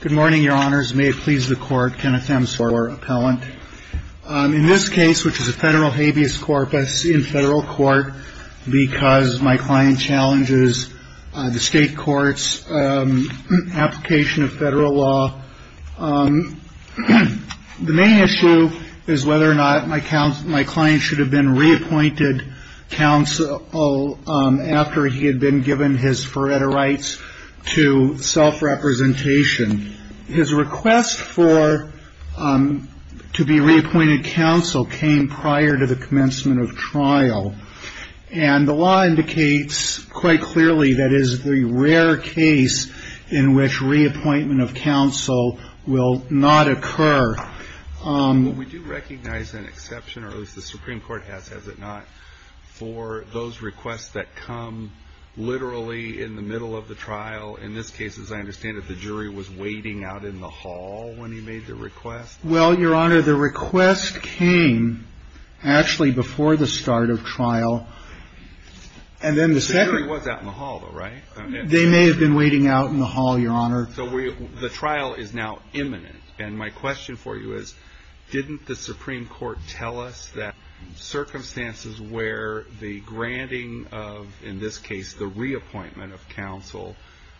Good morning, your honors. May it please the court, Kenneth M. Soil, our appellant. In this case, which is a federal habeas corpus in federal court because my client challenges the state court's application of federal law, the main issue is whether or not my client should have been reappointed counsel after he had been given his forerights to self-representation. His request to be reappointed counsel came prior to the commencement of trial, and the law indicates quite clearly that is the rare case in which reappointment of counsel will not occur. We do recognize an exception, or at least the Supreme Court has, has it not, for those requests that come literally in the middle of the trial. In this case, as I understand it, the jury was waiting out in the hall when he made the request. Well, your honor, the request came actually before the start of trial, and then the second... The jury was out in the hall, though, right? They may have been waiting out in the hall, your honor. So the trial is now imminent, and my question for you is, didn't the Supreme Court tell us that circumstances where the granting of, in this case, the reappointment of counsel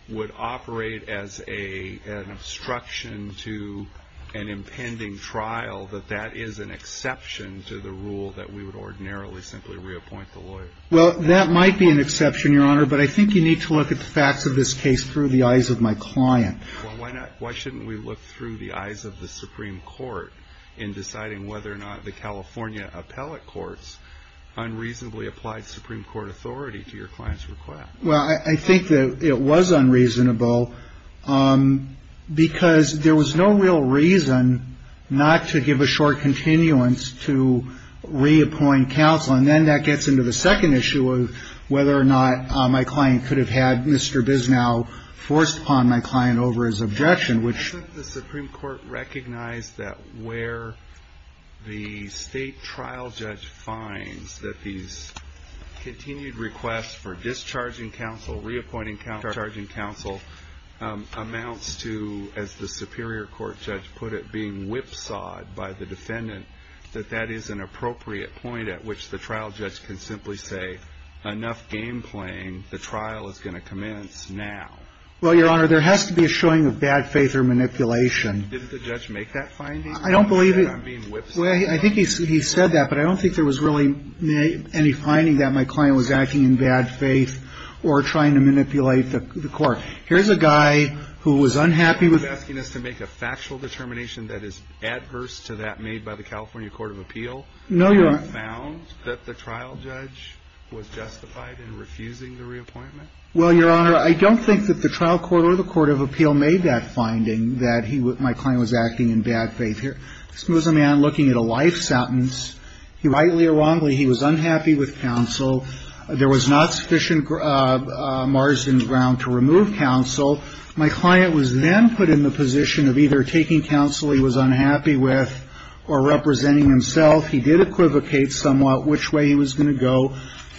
would operate as a, an obstruction to an impending trial, that that is an exception to the rule that we would ordinarily simply reappoint the lawyer? Well, that might be an exception, your honor, but I think you need to look at the facts of this case through the eyes of my client. Well, why not, why shouldn't we look through the eyes of the Supreme Court in deciding whether or not the California appellate courts unreasonably applied Supreme Court authority to your client's request? Well, I think that it was unreasonable because there was no real reason not to give a short continuance to reappoint counsel, and then that gets into the second issue of whether or not my client could have had Mr. Bisnow forced upon my client over his objection, which... ...continued request for discharging counsel, reappointing counsel, amounts to, as the Superior Court judge put it, being whipsawed by the defendant, that that is an appropriate point at which the trial judge can simply say, enough game playing, the trial is going to commence now. Well, your honor, there has to be a showing of bad faith or manipulation. Didn't the judge make that finding? I don't believe he... He said I'm being whipsawed. I think he said that, but I don't think there was really any finding that my client was acting in bad faith or trying to manipulate the court. Here's a guy who was unhappy with... He's asking us to make a factual determination that is adverse to that made by the California Court of Appeal... No, your honor. ...and found that the trial judge was justified in refusing the reappointment? Well, your honor, I don't think that the trial court or the court of appeal made that finding that my client was acting in bad faith. This was a man looking at a life sentence. Rightly or wrongly, he was unhappy with counsel. There was not sufficient margin of ground to remove counsel. My client was then put in the position of either taking counsel he was unhappy with or representing himself. He did equivocate somewhat which way he was going to go.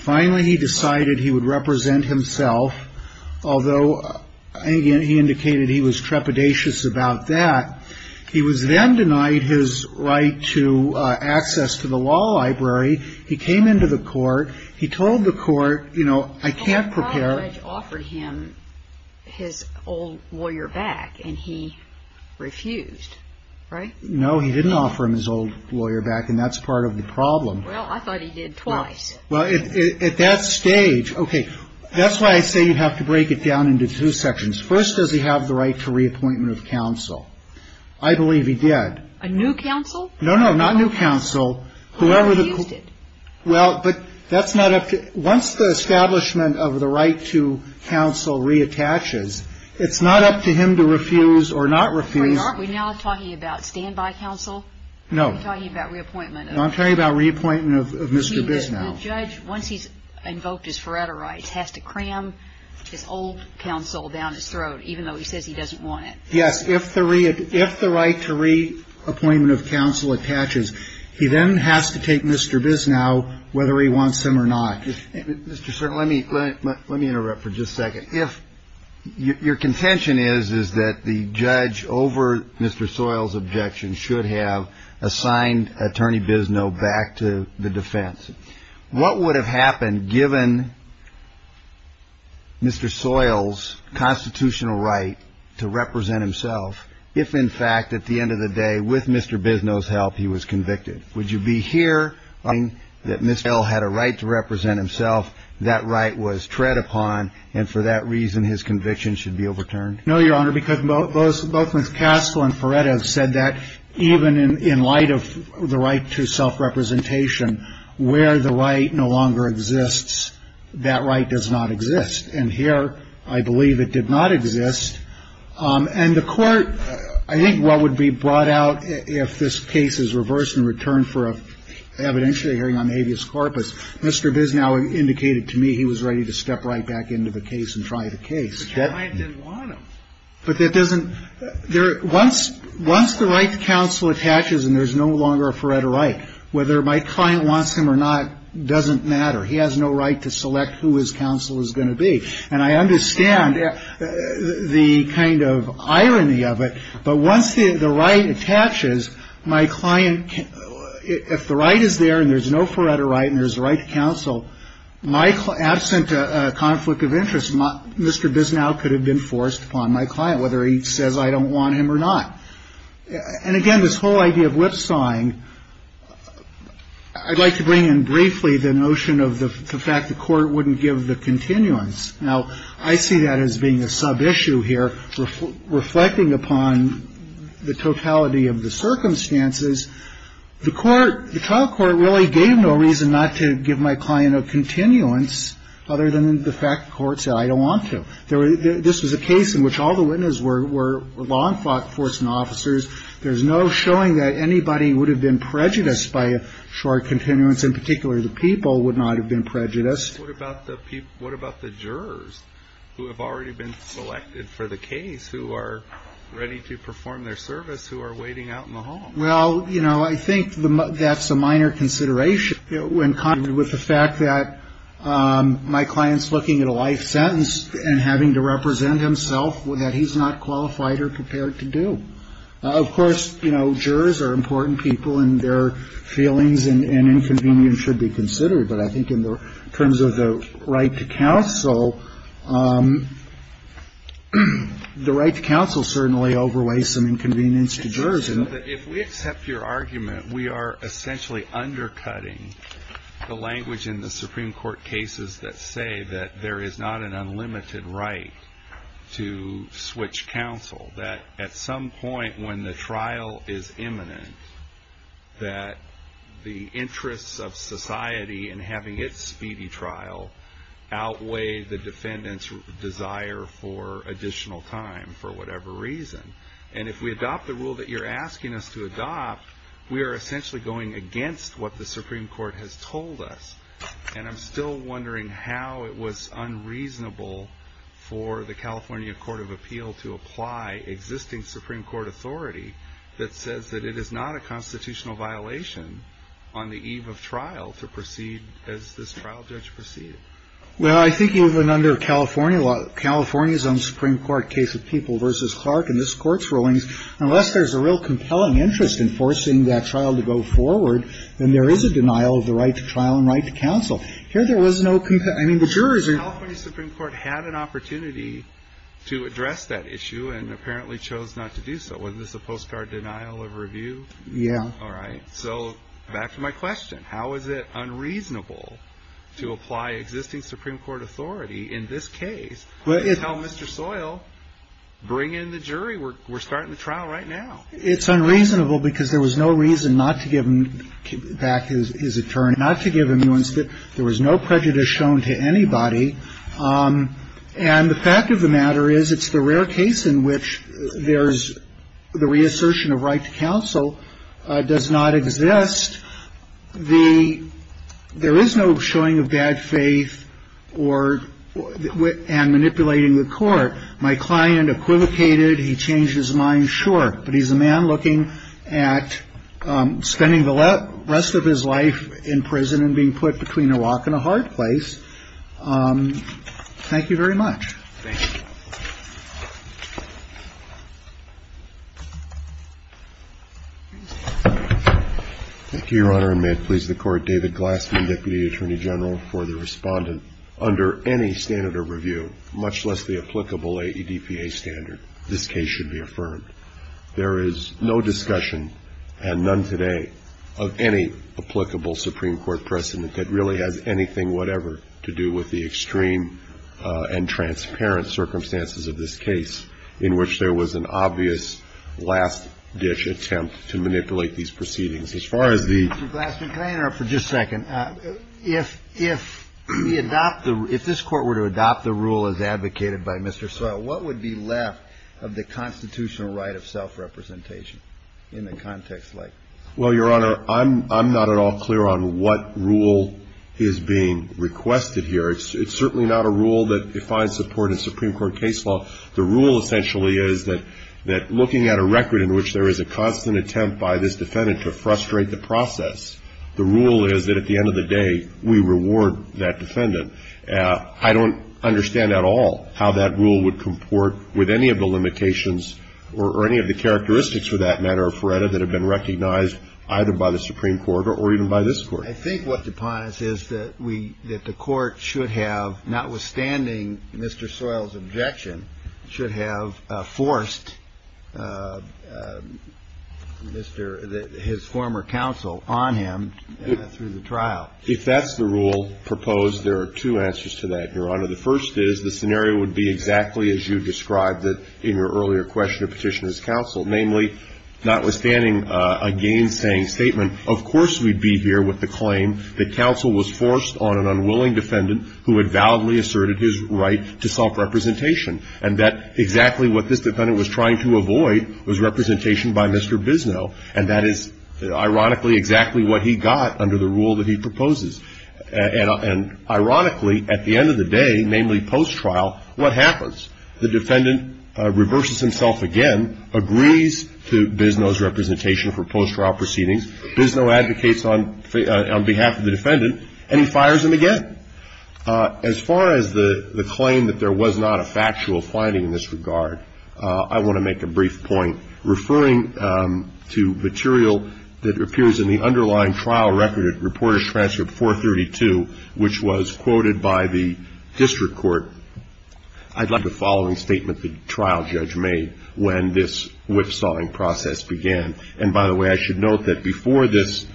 Finally, he decided he would represent himself, although he indicated he was trepidatious about that. He was then denied his right to access to the law library. He came into the court. He told the court, you know, I can't prepare... The trial judge offered him his old lawyer back, and he refused, right? No, he didn't offer him his old lawyer back, and that's part of the problem. Well, I thought he did twice. Well, at that stage... Okay, that's why I say you have to break it down into two sections. First, does he have the right to reappointment of counsel? I believe he did. A new counsel? No, no, not new counsel. Whoever the... He refused it. Well, but that's not up to... Once the establishment of the right to counsel reattaches, it's not up to him to refuse or not refuse. Are we now talking about standby counsel? No. Are we talking about reappointment of... No, I'm talking about reappointment of Mr. Bisnow. The judge, once he's invoked his forever rights, has to cram his old counsel down his throat, even though he says he doesn't want it. Yes. If the right to reappointment of counsel attaches, he then has to take Mr. Bisnow, whether he wants him or not. Mr. Stern, let me interrupt for just a second. Your contention is that the judge, over Mr. Soil's objection, should have assigned Attorney Bisnow back to the defense. What would have happened given Mr. Soil's constitutional right to represent himself if, in fact, at the end of the day, with Mr. Bisnow's help, he was convicted? Would you be here arguing that Mr. Soil had a right to represent himself, that right was tread upon, and for that reason, his conviction should be overturned? No, Your Honor, because both Ms. Castle and Feretta have said that even in light of the right to self-representation, where the right no longer exists, that right does not exist. And here, I believe it did not exist. And the Court, I think what would be brought out if this case is reversed and returned for an evidentiary hearing on habeas corpus, Mr. Bisnow indicated to me he was ready to step right back into the case and try the case. But your client didn't want him. But that doesn't – once the right to counsel attaches and there's no longer a Feretta right, whether my client wants him or not doesn't matter. He has no right to select who his counsel is going to be. And I understand the kind of irony of it, but once the right attaches, my client – if the right is there and there's no Feretta right and there's a right to counsel, absent a conflict of interest, Mr. Bisnow could have been forced upon my client, whether he says I don't want him or not. And again, this whole idea of lip-sawing, I'd like to bring in briefly the notion of the fact the Court wouldn't give the continuance. Now, I see that as being a sub-issue here. Reflecting upon the totality of the circumstances, the Court – the trial court really gave no reason not to give my client a continuance other than the fact the Court said I don't want to. This was a case in which all the witnesses were law enforcement officers. There's no showing that anybody would have been prejudiced by a short continuance, in particular the people would not have been prejudiced. What about the jurors who have already been selected for the case, who are ready to perform their service, who are waiting out in the hall? Well, you know, I think that's a minor consideration. With the fact that my client's looking at a life sentence and having to represent himself, that he's not qualified or prepared to do. Of course, you know, jurors are important people, and their feelings and inconvenience should be considered. But I think in terms of the right to counsel, the right to counsel certainly overweighs some inconvenience to jurors. If we accept your argument, we are essentially undercutting the language in the Supreme Court cases that say that there is not an unlimited right to switch counsel. That at some point when the trial is imminent, that the interests of society in having its speedy trial outweigh the defendant's desire for additional time for whatever reason. And if we adopt the rule that you're asking us to adopt, we are essentially going against what the Supreme Court has told us. And I'm still wondering how it was unreasonable for the California Court of Appeal to apply existing Supreme Court authority that says that it is not a constitutional violation on the eve of trial to proceed as this trial judge proceeded. Well, I think even under California law, California's own Supreme Court case of People v. Clark in this Court's rulings, unless there's a real compelling interest in forcing that trial to go forward, then there is a denial of the right to trial and right to counsel. Here there was no – I mean, the jurors are – The California Supreme Court had an opportunity to address that issue and apparently chose not to do so. Was this a postcard denial of review? Yeah. All right. So back to my question. How is it unreasonable to apply existing Supreme Court authority in this case to tell Mr. Soil, bring in the jury. We're starting the trial right now. It's unreasonable because there was no reason not to give him back his attorney, not to give him – there was no prejudice shown to anybody. And the fact of the matter is it's the rare case in which there's – the reassertion of right to counsel does not exist. The – there is no showing of bad faith or – and manipulating the court. My client equivocated. He changed his mind, sure, but he's a man looking at spending the rest of his life in prison and being put between a rock and a hard place. Thank you very much. Thank you. Thank you, Your Honor, and may it please the Court. David Glassman, Deputy Attorney General, for the respondent. Under any standard of review, much less the applicable AEDPA standard, this case should be affirmed. There is no discussion, and none today, of any applicable Supreme Court precedent that really has anything whatever to do with the extreme and transparent circumstances of this case in which there was an obvious last-ditch attempt to manipulate these proceedings. As far as the – Mr. Glassman, can I interrupt for just a second? If we adopt the – if this Court were to adopt the rule as advocated by Mr. Sewell, what would be left of the constitutional right of self-representation in a context like this? Well, Your Honor, I'm not at all clear on what rule is being requested here. It's certainly not a rule that defines support of Supreme Court case law. The rule essentially is that looking at a record in which there is a constant attempt by this defendant to frustrate the process, the rule is that at the end of the day, we reward that defendant. I don't understand at all how that rule would comport with any of the limitations or any of the characteristics, for that matter, of FREDA that have been recognized either by the Supreme Court or even by this Court. I think what's upon us is that we – that the Court should have, notwithstanding Mr. Sewell's objection, should have forced Mr. – his former counsel on him through the trial. If that's the rule proposed, there are two answers to that, Your Honor. The first is the scenario would be exactly as you described it in your earlier question of petitioner's counsel, namely, notwithstanding a gainsaying statement, of course we'd be here with the claim that counsel was forced on an unwilling defendant who had validly asserted his right to self-representation, and that exactly what this defendant was trying to avoid was representation by Mr. Bisnow, and that is ironically exactly what he got under the rule that he proposes. And ironically, at the end of the day, namely post-trial, what happens? The defendant reverses himself again, agrees to Bisnow's representation for post-trial proceedings. Bisnow advocates on behalf of the defendant, and he fires him again. As far as the claim that there was not a factual finding in this regard, I want to make a brief point. Referring to material that appears in the underlying trial record at Reportage Transcript 432, which was quoted by the district court, I'd like the following statement the trial judge made when this whipsawing process began. And by the way, I should note that before this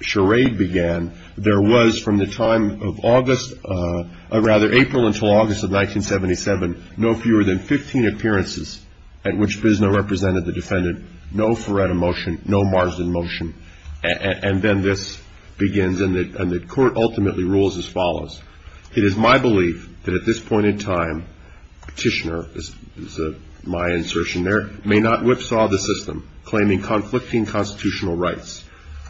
charade began, there was from the time of August, or rather April until August of 1977, no fewer than 15 appearances at which Bisnow represented the defendant. No Feretta motion, no Marsden motion. And then this begins, and the court ultimately rules as follows. It is my belief that at this point in time, Tishner is my insertion there, may not whipsaw the system, claiming conflicting constitutional rights.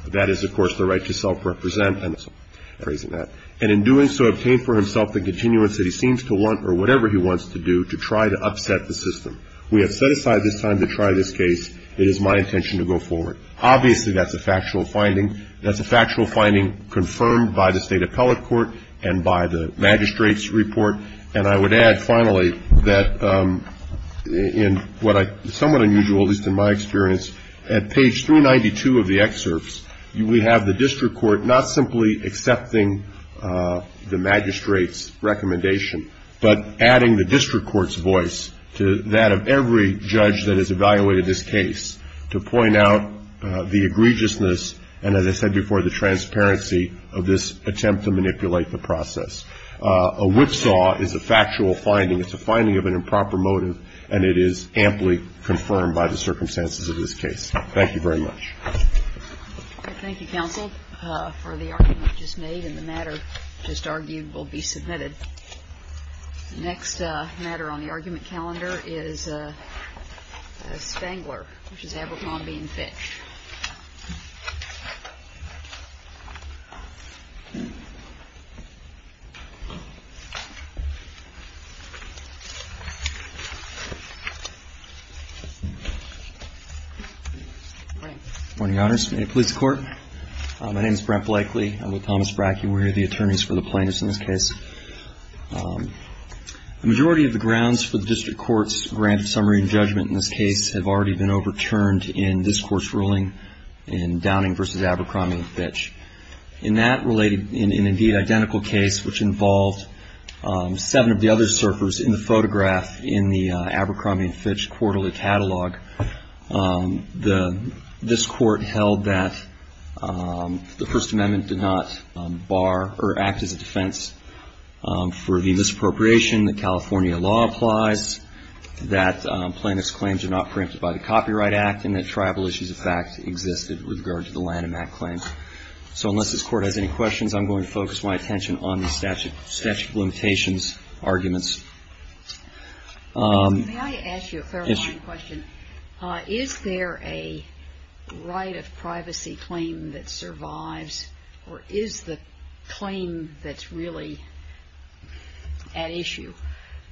That is, of course, the right to self-represent. And in doing so, obtain for himself the continuance that he seems to want, or whatever he wants to do, to try to upset the system. We have set aside this time to try this case. It is my intention to go forward. Obviously, that's a factual finding. That's a factual finding confirmed by the State Appellate Court and by the magistrate's report. And I would add, finally, that in what is somewhat unusual, at least in my experience, at page 392 of the excerpts, we have the district court not simply accepting the magistrate's recommendation, but adding the district court's voice to that of every judge that has evaluated this case to point out the egregiousness and, as I said before, the transparency of this attempt to manipulate the process. A whipsaw is a factual finding. It's a finding of an improper motive, and it is amply confirmed by the circumstances of this case. Thank you very much. Thank you, counsel, for the argument just made, and the matter just argued will be submitted. The next matter on the argument calendar is Spangler v. Abercrombie v. Fitch. Good morning. Good morning, Your Honors. May it please the Court. My name is Brent Blakely. I'm with Thomas Brackey. We're the attorneys for the plaintiffs in this case. The majority of the grounds for the district court's grant of summary and judgment in this case have already been overturned in this Court's ruling in Downing v. Abercrombie v. Fitch. In that related and, indeed, identical case, which involved seven of the other surfers in the photograph in the Abercrombie v. Fitch quarterly catalog, this Court held that the First Amendment did not act as a defense for the misappropriation, that California law applies, that plaintiffs' claims are not preempted by the Copyright Act, and that tribal issues, in fact, existed with regard to the Lanham Act claims. So unless this Court has any questions, I'm going to focus my attention on the statute of limitations arguments. May I ask you a clarifying question? Yes. Is there a right of privacy claim that survives, or is the claim that's really at issue,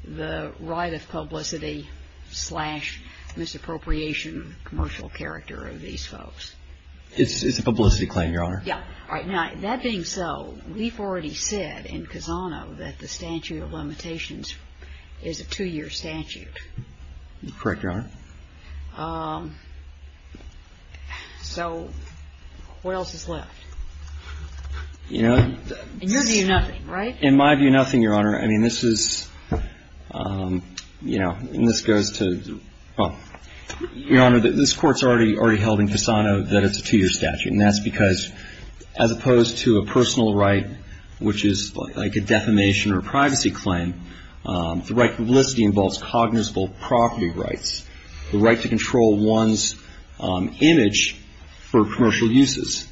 the right of publicity slash misappropriation commercial character of these folks? It's a publicity claim, Your Honor. Yes. All right. Now, that being so, we've already said in Cassano that the statute of limitations is a two-year statute. Correct, Your Honor. So what else is left? You know. In your view, nothing, right? In my view, nothing, Your Honor. I mean, this is, you know, and this goes to, well, Your Honor, this Court's already held in Cassano that it's a two-year statute. And that's because, as opposed to a personal right, which is like a defamation or a privacy claim, the right to publicity involves cognizable property rights, the right to control one's image for commercial uses.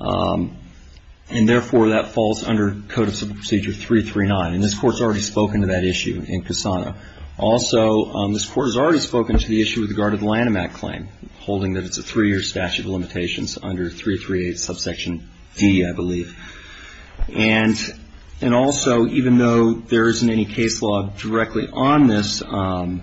And therefore, that falls under Code of Procedure 339. And this Court's already spoken to that issue in Cassano. Also, this Court has already spoken to the issue with regard to the Lanham Act claim, holding that it's a three-year statute of limitations under 338 subsection D, I believe. And also, even though there isn't any case law directly on this, I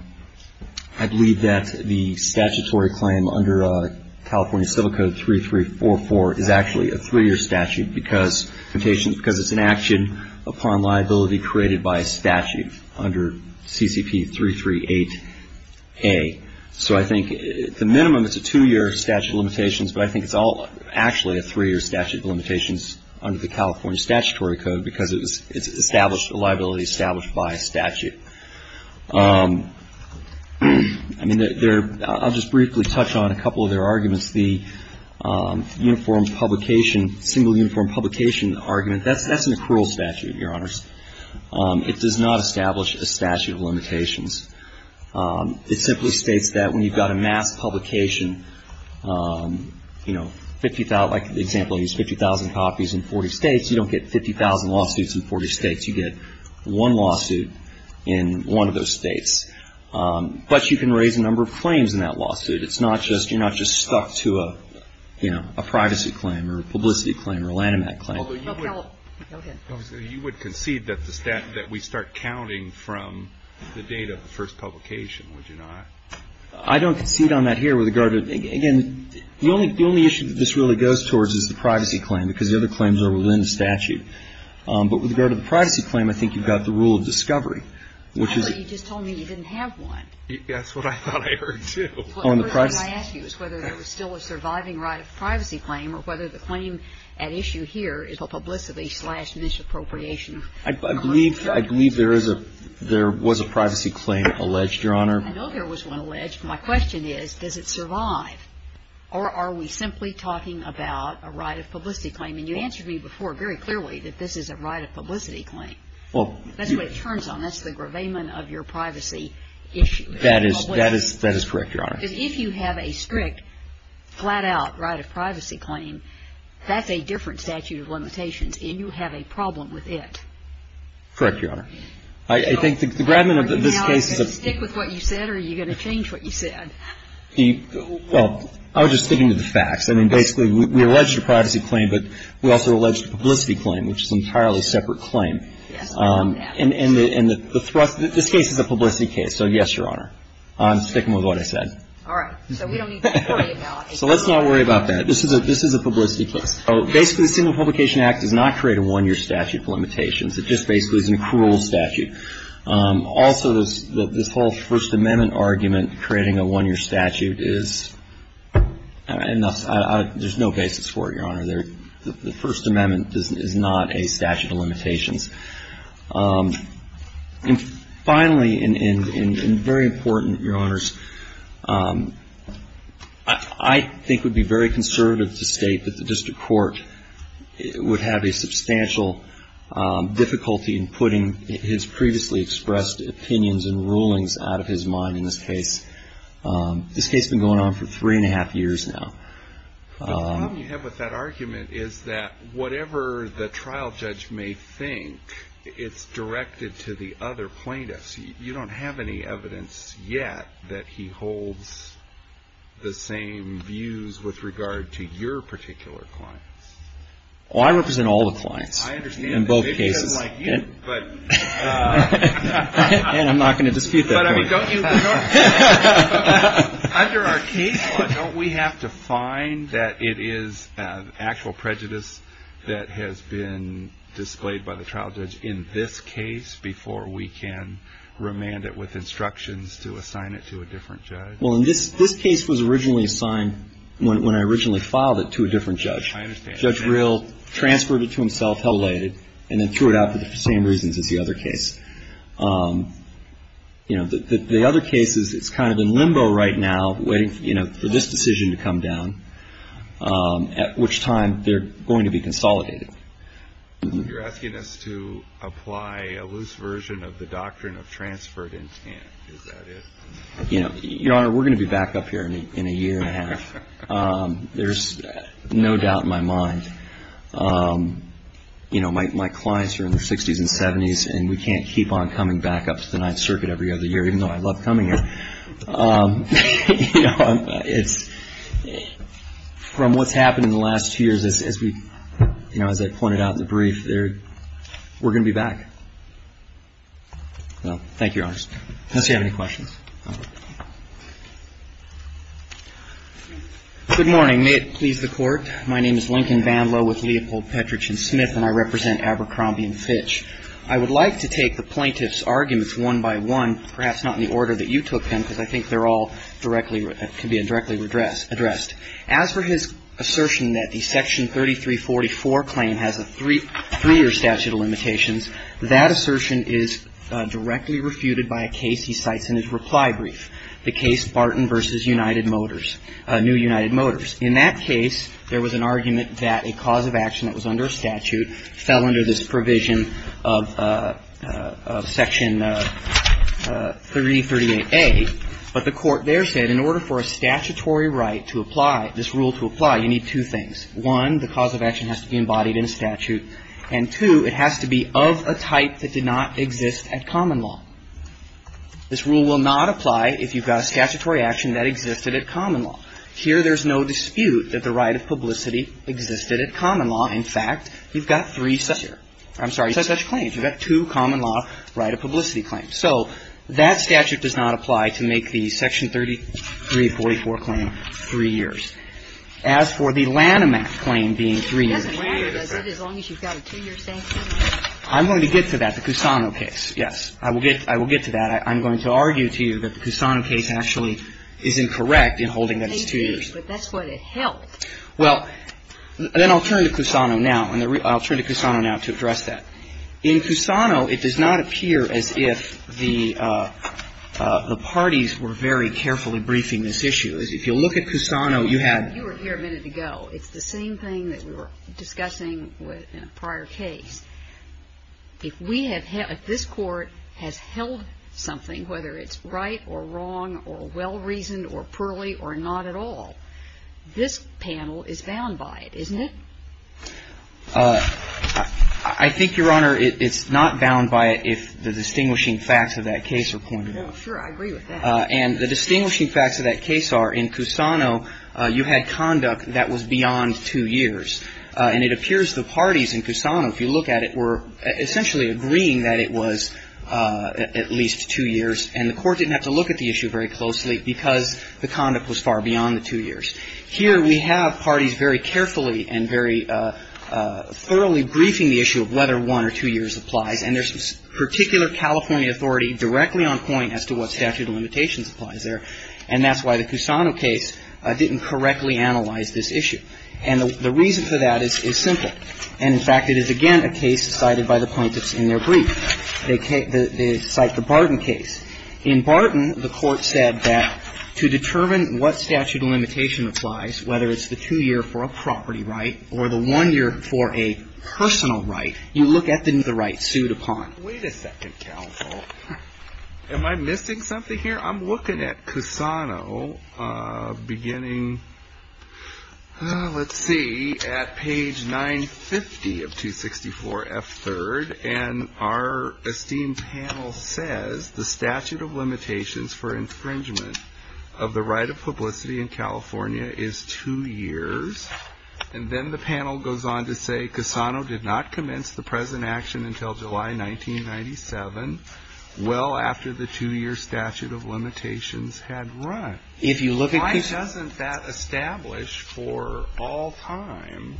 believe that the statutory claim under California Civil Code 3344 is actually a three-year statute because it's an action upon liability created by statute under CCP 338A. So I think, at the minimum, it's a two-year statute of limitations, but I think it's all actually a three-year statute of limitations under the California Statutory Code because it's established a liability established by statute. I mean, I'll just briefly touch on a couple of their arguments. The uniform publication, single uniform publication argument, that's an accrual statute, Your Honors. It does not establish a statute of limitations. It simply states that when you've got a mass publication, you know, 50,000, like the example of these 50,000 copies in 40 states, you don't get 50,000 lawsuits in 40 states. You get one lawsuit in one of those states. But you can raise a number of claims in that lawsuit. It's not just, you're not just stuck to a, you know, a privacy claim or a publicity claim or a Lanham Act claim. Although you would concede that we start counting from the date of the first publication, would you not? I don't concede on that here with regard to, again, the only issue that this really goes towards is the privacy claim because the other claims are within the statute. But with regard to the privacy claim, I think you've got the rule of discovery, which is you just told me you didn't have one. That's what I thought I heard, too. Well, the first thing I asked you is whether there was still a surviving right of privacy claim or whether the claim at issue here is a publicity slash misappropriation. I believe there is a, there was a privacy claim alleged, Your Honor. I know there was one alleged. My question is, does it survive or are we simply talking about a right of publicity claim? And you answered me before very clearly that this is a right of publicity claim. That's what it turns on. That's the gravamen of your privacy issue. That is correct, Your Honor. If you have a strict, flat-out right of privacy claim, that's a different statute of limitations and you have a problem with it. Correct, Your Honor. I think the gravamen of this case is a... Can you stick with what you said or are you going to change what you said? Well, I was just sticking to the facts. I mean, basically, we alleged a privacy claim, but we also alleged a publicity claim, which is an entirely separate claim. Yes, I know that. And the thrust, this case is a publicity case. So, yes, Your Honor. I'm sticking with what I said. All right. So we don't need to worry about it. So let's not worry about that. This is a publicity case. Basically, the Single Publication Act does not create a one-year statute of limitations. It just basically is an accrual statute. Also, this whole First Amendment argument, creating a one-year statute, is enough. There's no basis for it, Your Honor. The First Amendment is not a statute of limitations. And finally, and very important, Your Honors, I think it would be very conservative to state that the district court would have a substantial difficulty in putting his previously expressed opinions and rulings out of his mind in this case. This case has been going on for three-and-a-half years now. The problem you have with that argument is that whatever the trial judge may think, it's directed to the other plaintiffs. You don't have any evidence yet that he holds the same views with regard to your particular clients. Well, I represent all the clients in both cases. I understand that. Maybe he doesn't like you, but... And I'm not going to dispute that. But, I mean, don't you ignore... Under our case law, don't we have to find that it is actual prejudice that has been displayed by the trial judge in this case before we can remand it with instructions to assign it to a different judge? Well, this case was originally assigned, when I originally filed it, to a different judge. I understand that. Judge Rill transferred it to himself, held it, and then threw it out for the same reasons as the other case. The other case is it's kind of in limbo right now, waiting for this decision to come down, at which time they're going to be consolidated. You're asking us to apply a loose version of the doctrine of transferred intent. Is that it? Your Honor, we're going to be back up here in a year-and-a-half. There's no doubt in my mind. You know, my clients are in their 60s and 70s, and we can't keep on coming back up to the Ninth Circuit every other year, even though I love coming here. You know, it's... From what's happened in the last two years, as I pointed out in the brief, we're going to be back. Thank you, Your Honor. Unless you have any questions. Good morning. May it please the Court. My name is Lincoln Van Lowe with Leopold, Petrich, and Smith, and I represent Abercrombie & Fitch. I would like to take the plaintiff's arguments one by one, perhaps not in the order that you took them because I think they're all directly, can be directly addressed. As for his assertion that the Section 3344 claim has a three-year statute of limitations, that assertion is directly refuted by a case he cites in his reply brief, the case Barton v. United Motors, New United Motors. In that case, there was an argument that a cause of action that was under a statute fell under this provision of Section 338A. But the Court there said in order for a statutory right to apply, this rule to apply, you need two things. One, the cause of action has to be embodied in a statute. And, two, it has to be of a type that did not exist at common law. This rule will not apply if you've got a statutory action that existed at common law. Here there's no dispute that the right of publicity existed at common law. In fact, you've got three such claims. You've got two common law right of publicity claims. So that statute does not apply to make the Section 3344 claim three years. As for the Lanham Act claim being three years. It doesn't matter, does it, as long as you've got a two-year sanction? I'm going to get to that, the Cusano case, yes. I will get to that. But I'm going to argue to you that the Cusano case actually is incorrect in holding that it's two years. But that's what it held. Well, then I'll turn to Cusano now. I'll turn to Cusano now to address that. In Cusano, it does not appear as if the parties were very carefully briefing this issue. If you look at Cusano, you had You were here a minute ago. It's the same thing that we were discussing in a prior case. If this Court has held something, whether it's right or wrong or well-reasoned or poorly or not at all, this panel is bound by it, isn't it? I think, Your Honor, it's not bound by it if the distinguishing facts of that case are pointed out. Well, sure. I agree with that. And the distinguishing facts of that case are in Cusano, you had conduct that was beyond two years. And it appears the parties in Cusano, if you look at it, were essentially agreeing that it was at least two years. And the Court didn't have to look at the issue very closely because the conduct was far beyond the two years. Here we have parties very carefully and very thoroughly briefing the issue of whether one or two years applies. And there's a particular California authority directly on point as to what statute of limitations applies there. And that's why the Cusano case didn't correctly analyze this issue. And the reason for that is simple. And, in fact, it is, again, a case cited by the plaintiffs in their brief. They cite the Barton case. In Barton, the Court said that to determine what statute of limitation applies, whether it's the two year for a property right or the one year for a personal right, you look at the right sued upon. Wait a second, counsel. Am I missing something here? I'm looking at Cusano beginning, let's see, at page 950 of 264F3rd. And our esteemed panel says the statute of limitations for infringement of the right of publicity in California is two years. And then the panel goes on to say Cusano did not commence the present action until July 1997, well after the two year statute of limitations had run. If you look at Cusano. Why doesn't that establish for all time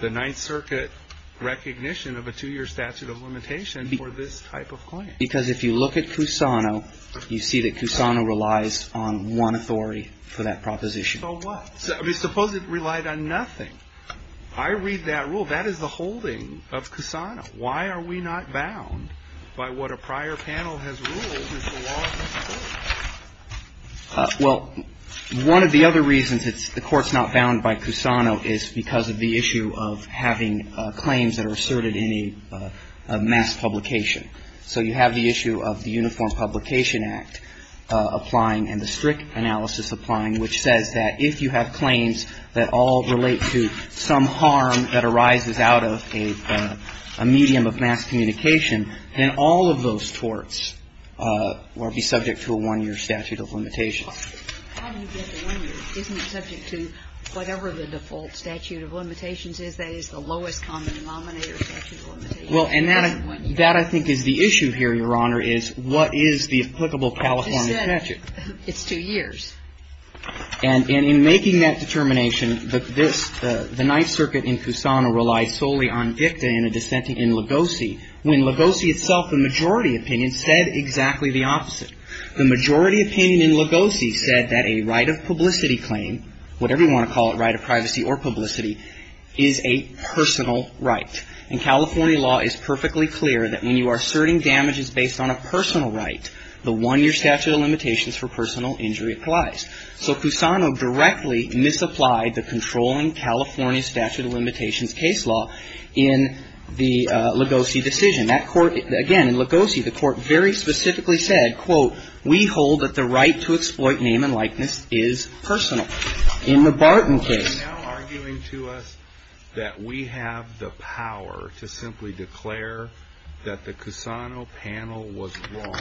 the Ninth Circuit recognition of a two year statute of limitation for this type of claim? Because if you look at Cusano, you see that Cusano relies on one authority for that proposition. So what? Suppose it relied on nothing. I read that rule. That is the holding of Cusano. Why are we not bound by what a prior panel has ruled is the law of the court? Well, one of the other reasons the Court's not bound by Cusano is because of the issue of having claims that are asserted in a mass publication. So you have the issue of the Uniform Publication Act applying and the strict analysis applying, which says that if you have claims that all relate to some harm that arises out of a medium of mass communication, then all of those torts will be subject to a one year statute of limitations. How do you get to one year? Isn't it subject to whatever the default statute of limitations is? That is the lowest common denominator statute of limitations. Well, and that I think is the issue here, Your Honor, is what is the applicable California statute? It's two years. And in making that determination, the Ninth Circuit in Cusano relies solely on dicta and a dissenting in Lugosi, when Lugosi itself, the majority opinion, said exactly the opposite. The majority opinion in Lugosi said that a right of publicity claim, whatever you want to call it, right of privacy or publicity, is a personal right. And California law is perfectly clear that when you are asserting damages based on a personal right, the one year statute of limitations for personal injury applies. So Cusano directly misapplied the controlling California statute of limitations case law in the Lugosi decision. That court, again, in Lugosi, the court very specifically said, quote, we hold that the right to exploit name and likeness is personal. In the Barton case. You are now arguing to us that we have the power to simply declare that the Cusano panel was wrong,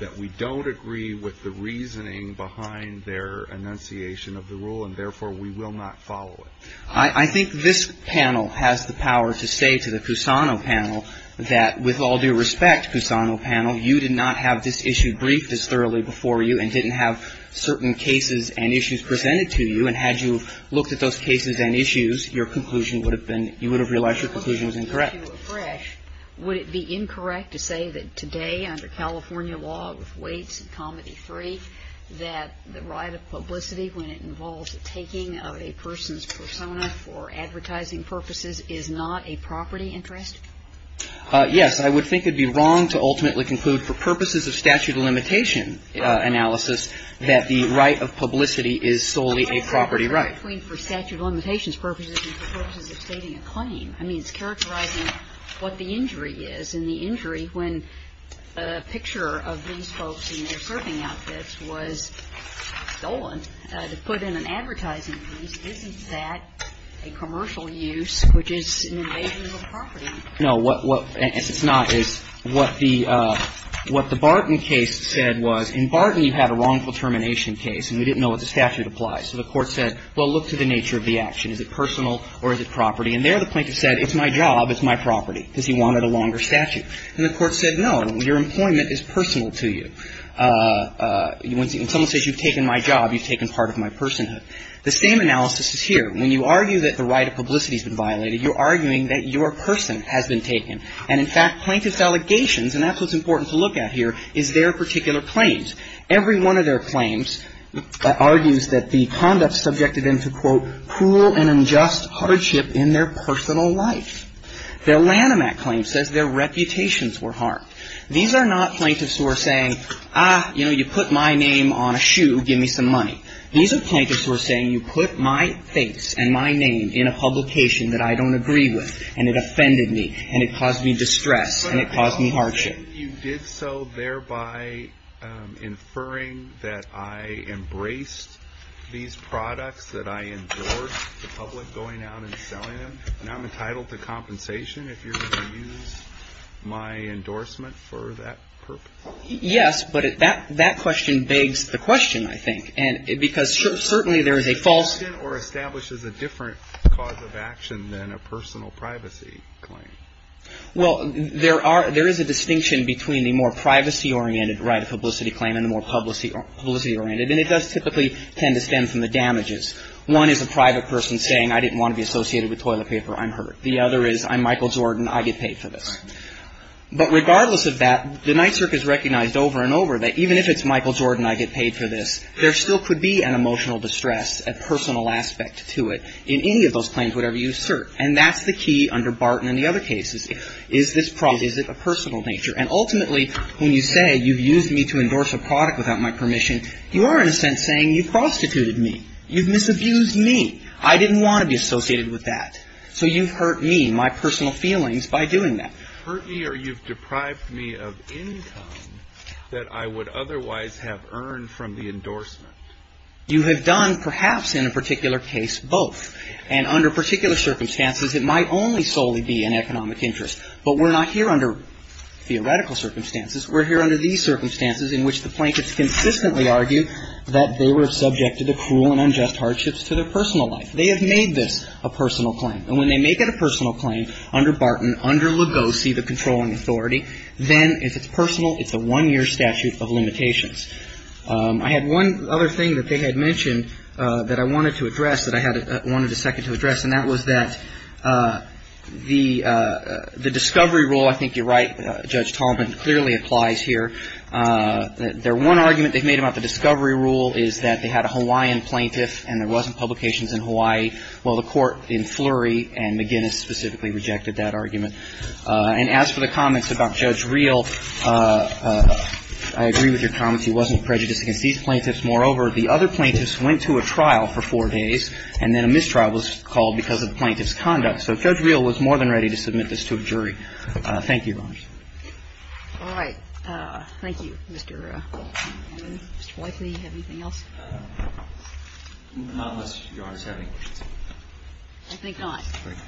that we don't agree with the reasoning behind their enunciation of the rule, and therefore, we will not follow it. I think this panel has the power to say to the Cusano panel that, with all due respect, Cusano panel, you did not have this issue briefed as thoroughly before you and didn't have certain cases and issues presented to you and had you looked at those cases and issues, your conclusion would have been, you would have realized your conclusion was incorrect. Would it be incorrect to say that today, under California law of weights and comedy three, that the right of publicity when it involves taking of a person's persona for advertising purposes is not a property interest? Yes. I would think it would be wrong to ultimately conclude for purposes of statute of limitation analysis that the right of publicity is solely a property right. I mean, for statute of limitations purposes and for purposes of stating a claim. I mean, it's characterizing what the injury is. And the injury, when a picture of these folks in their surfing outfits was stolen, to put in an advertising piece, isn't that a commercial use, which is an invasion of property? No. What the Barton case said was, in Barton you had a wrongful termination case and we didn't know what the statute applies. So the court said, well, look to the nature of the action. Is it personal or is it property? And there the plaintiff said, it's my job, it's my property, because he wanted a longer statute. And the court said, no, your employment is personal to you. When someone says you've taken my job, you've taken part of my personhood. The same analysis is here. When you argue that the right of publicity has been violated, you're arguing that your person has been taken. And in fact, plaintiff's allegations, and that's what's important to look at here, is their particular claims. Every one of their claims argues that the conduct subjected them to, quote, cruel and unjust hardship in their personal life. Their Lanham Act claim says their reputations were harmed. These are not plaintiffs who are saying, ah, you know, you put my name on a shoe, give me some money. These are plaintiffs who are saying, you put my face and my name in a publication that I don't agree with, and it offended me, and it caused me distress, and it caused me hardship. But you did so thereby inferring that I embraced these products, that I endorsed the public going out and selling them. And I'm entitled to compensation if you're going to use my endorsement for that purpose. Yes, but that question begs the question, I think. And because certainly there is a false ---- It establishes a different cause of action than a personal privacy claim. Well, there is a distinction between the more privacy-oriented right of publicity claim and the more publicity-oriented. And it does typically tend to stem from the damages. One is a private person saying, I didn't want to be associated with toilet paper, I'm hurt. The other is, I'm Michael Jordan, I get paid for this. But regardless of that, the NYSERC has recognized over and over that even if it's Michael Jordan, I get paid for this, there still could be an emotional distress, a personal aspect to it in any of those claims, whatever you assert. And that's the key under Barton and the other cases. Is this a personal nature? And ultimately, when you say you've used me to endorse a product without my permission, you are in a sense saying you've prostituted me. You've misabused me. I didn't want to be associated with that. So you've hurt me, my personal feelings, by doing that. You've hurt me or you've deprived me of income that I would otherwise have earned from the endorsement. You have done, perhaps in a particular case, both. And under particular circumstances, it might only solely be an economic interest. But we're not here under theoretical circumstances. We're here under these circumstances in which the plaintiffs consistently argue that they were subjected to cruel and unjust hardships to their personal life. They have made this a personal claim. And when they make it a personal claim under Barton, under Lugosi, the controlling authority, then if it's personal, it's a one-year statute of limitations. I had one other thing that they had mentioned that I wanted to address, that I wanted a second to address, and that was that the discovery rule, I think you're right, Judge Tallman, clearly applies here. Their one argument they've made about the discovery rule is that they had a Hawaiian plaintiff and there wasn't publications in Hawaii. Well, the court in Flurry and McGinnis specifically rejected that argument. And as for the comments about Judge Reel, I agree with your comments. He wasn't prejudiced against these plaintiffs. Moreover, the other plaintiffs went to a trial for four days and then a mistrial was called because of the plaintiff's conduct. So Judge Reel was more than ready to submit this to a jury. Thank you, Your Honors. All right. Thank you, Mr. Whiteley. Anything else? Not unless Your Honors have any questions. I think not.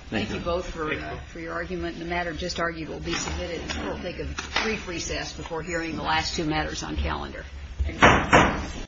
Thank you both for your argument. The matter just argued will be submitted. We'll take a brief recess before hearing the last two matters on calendar. Thank you.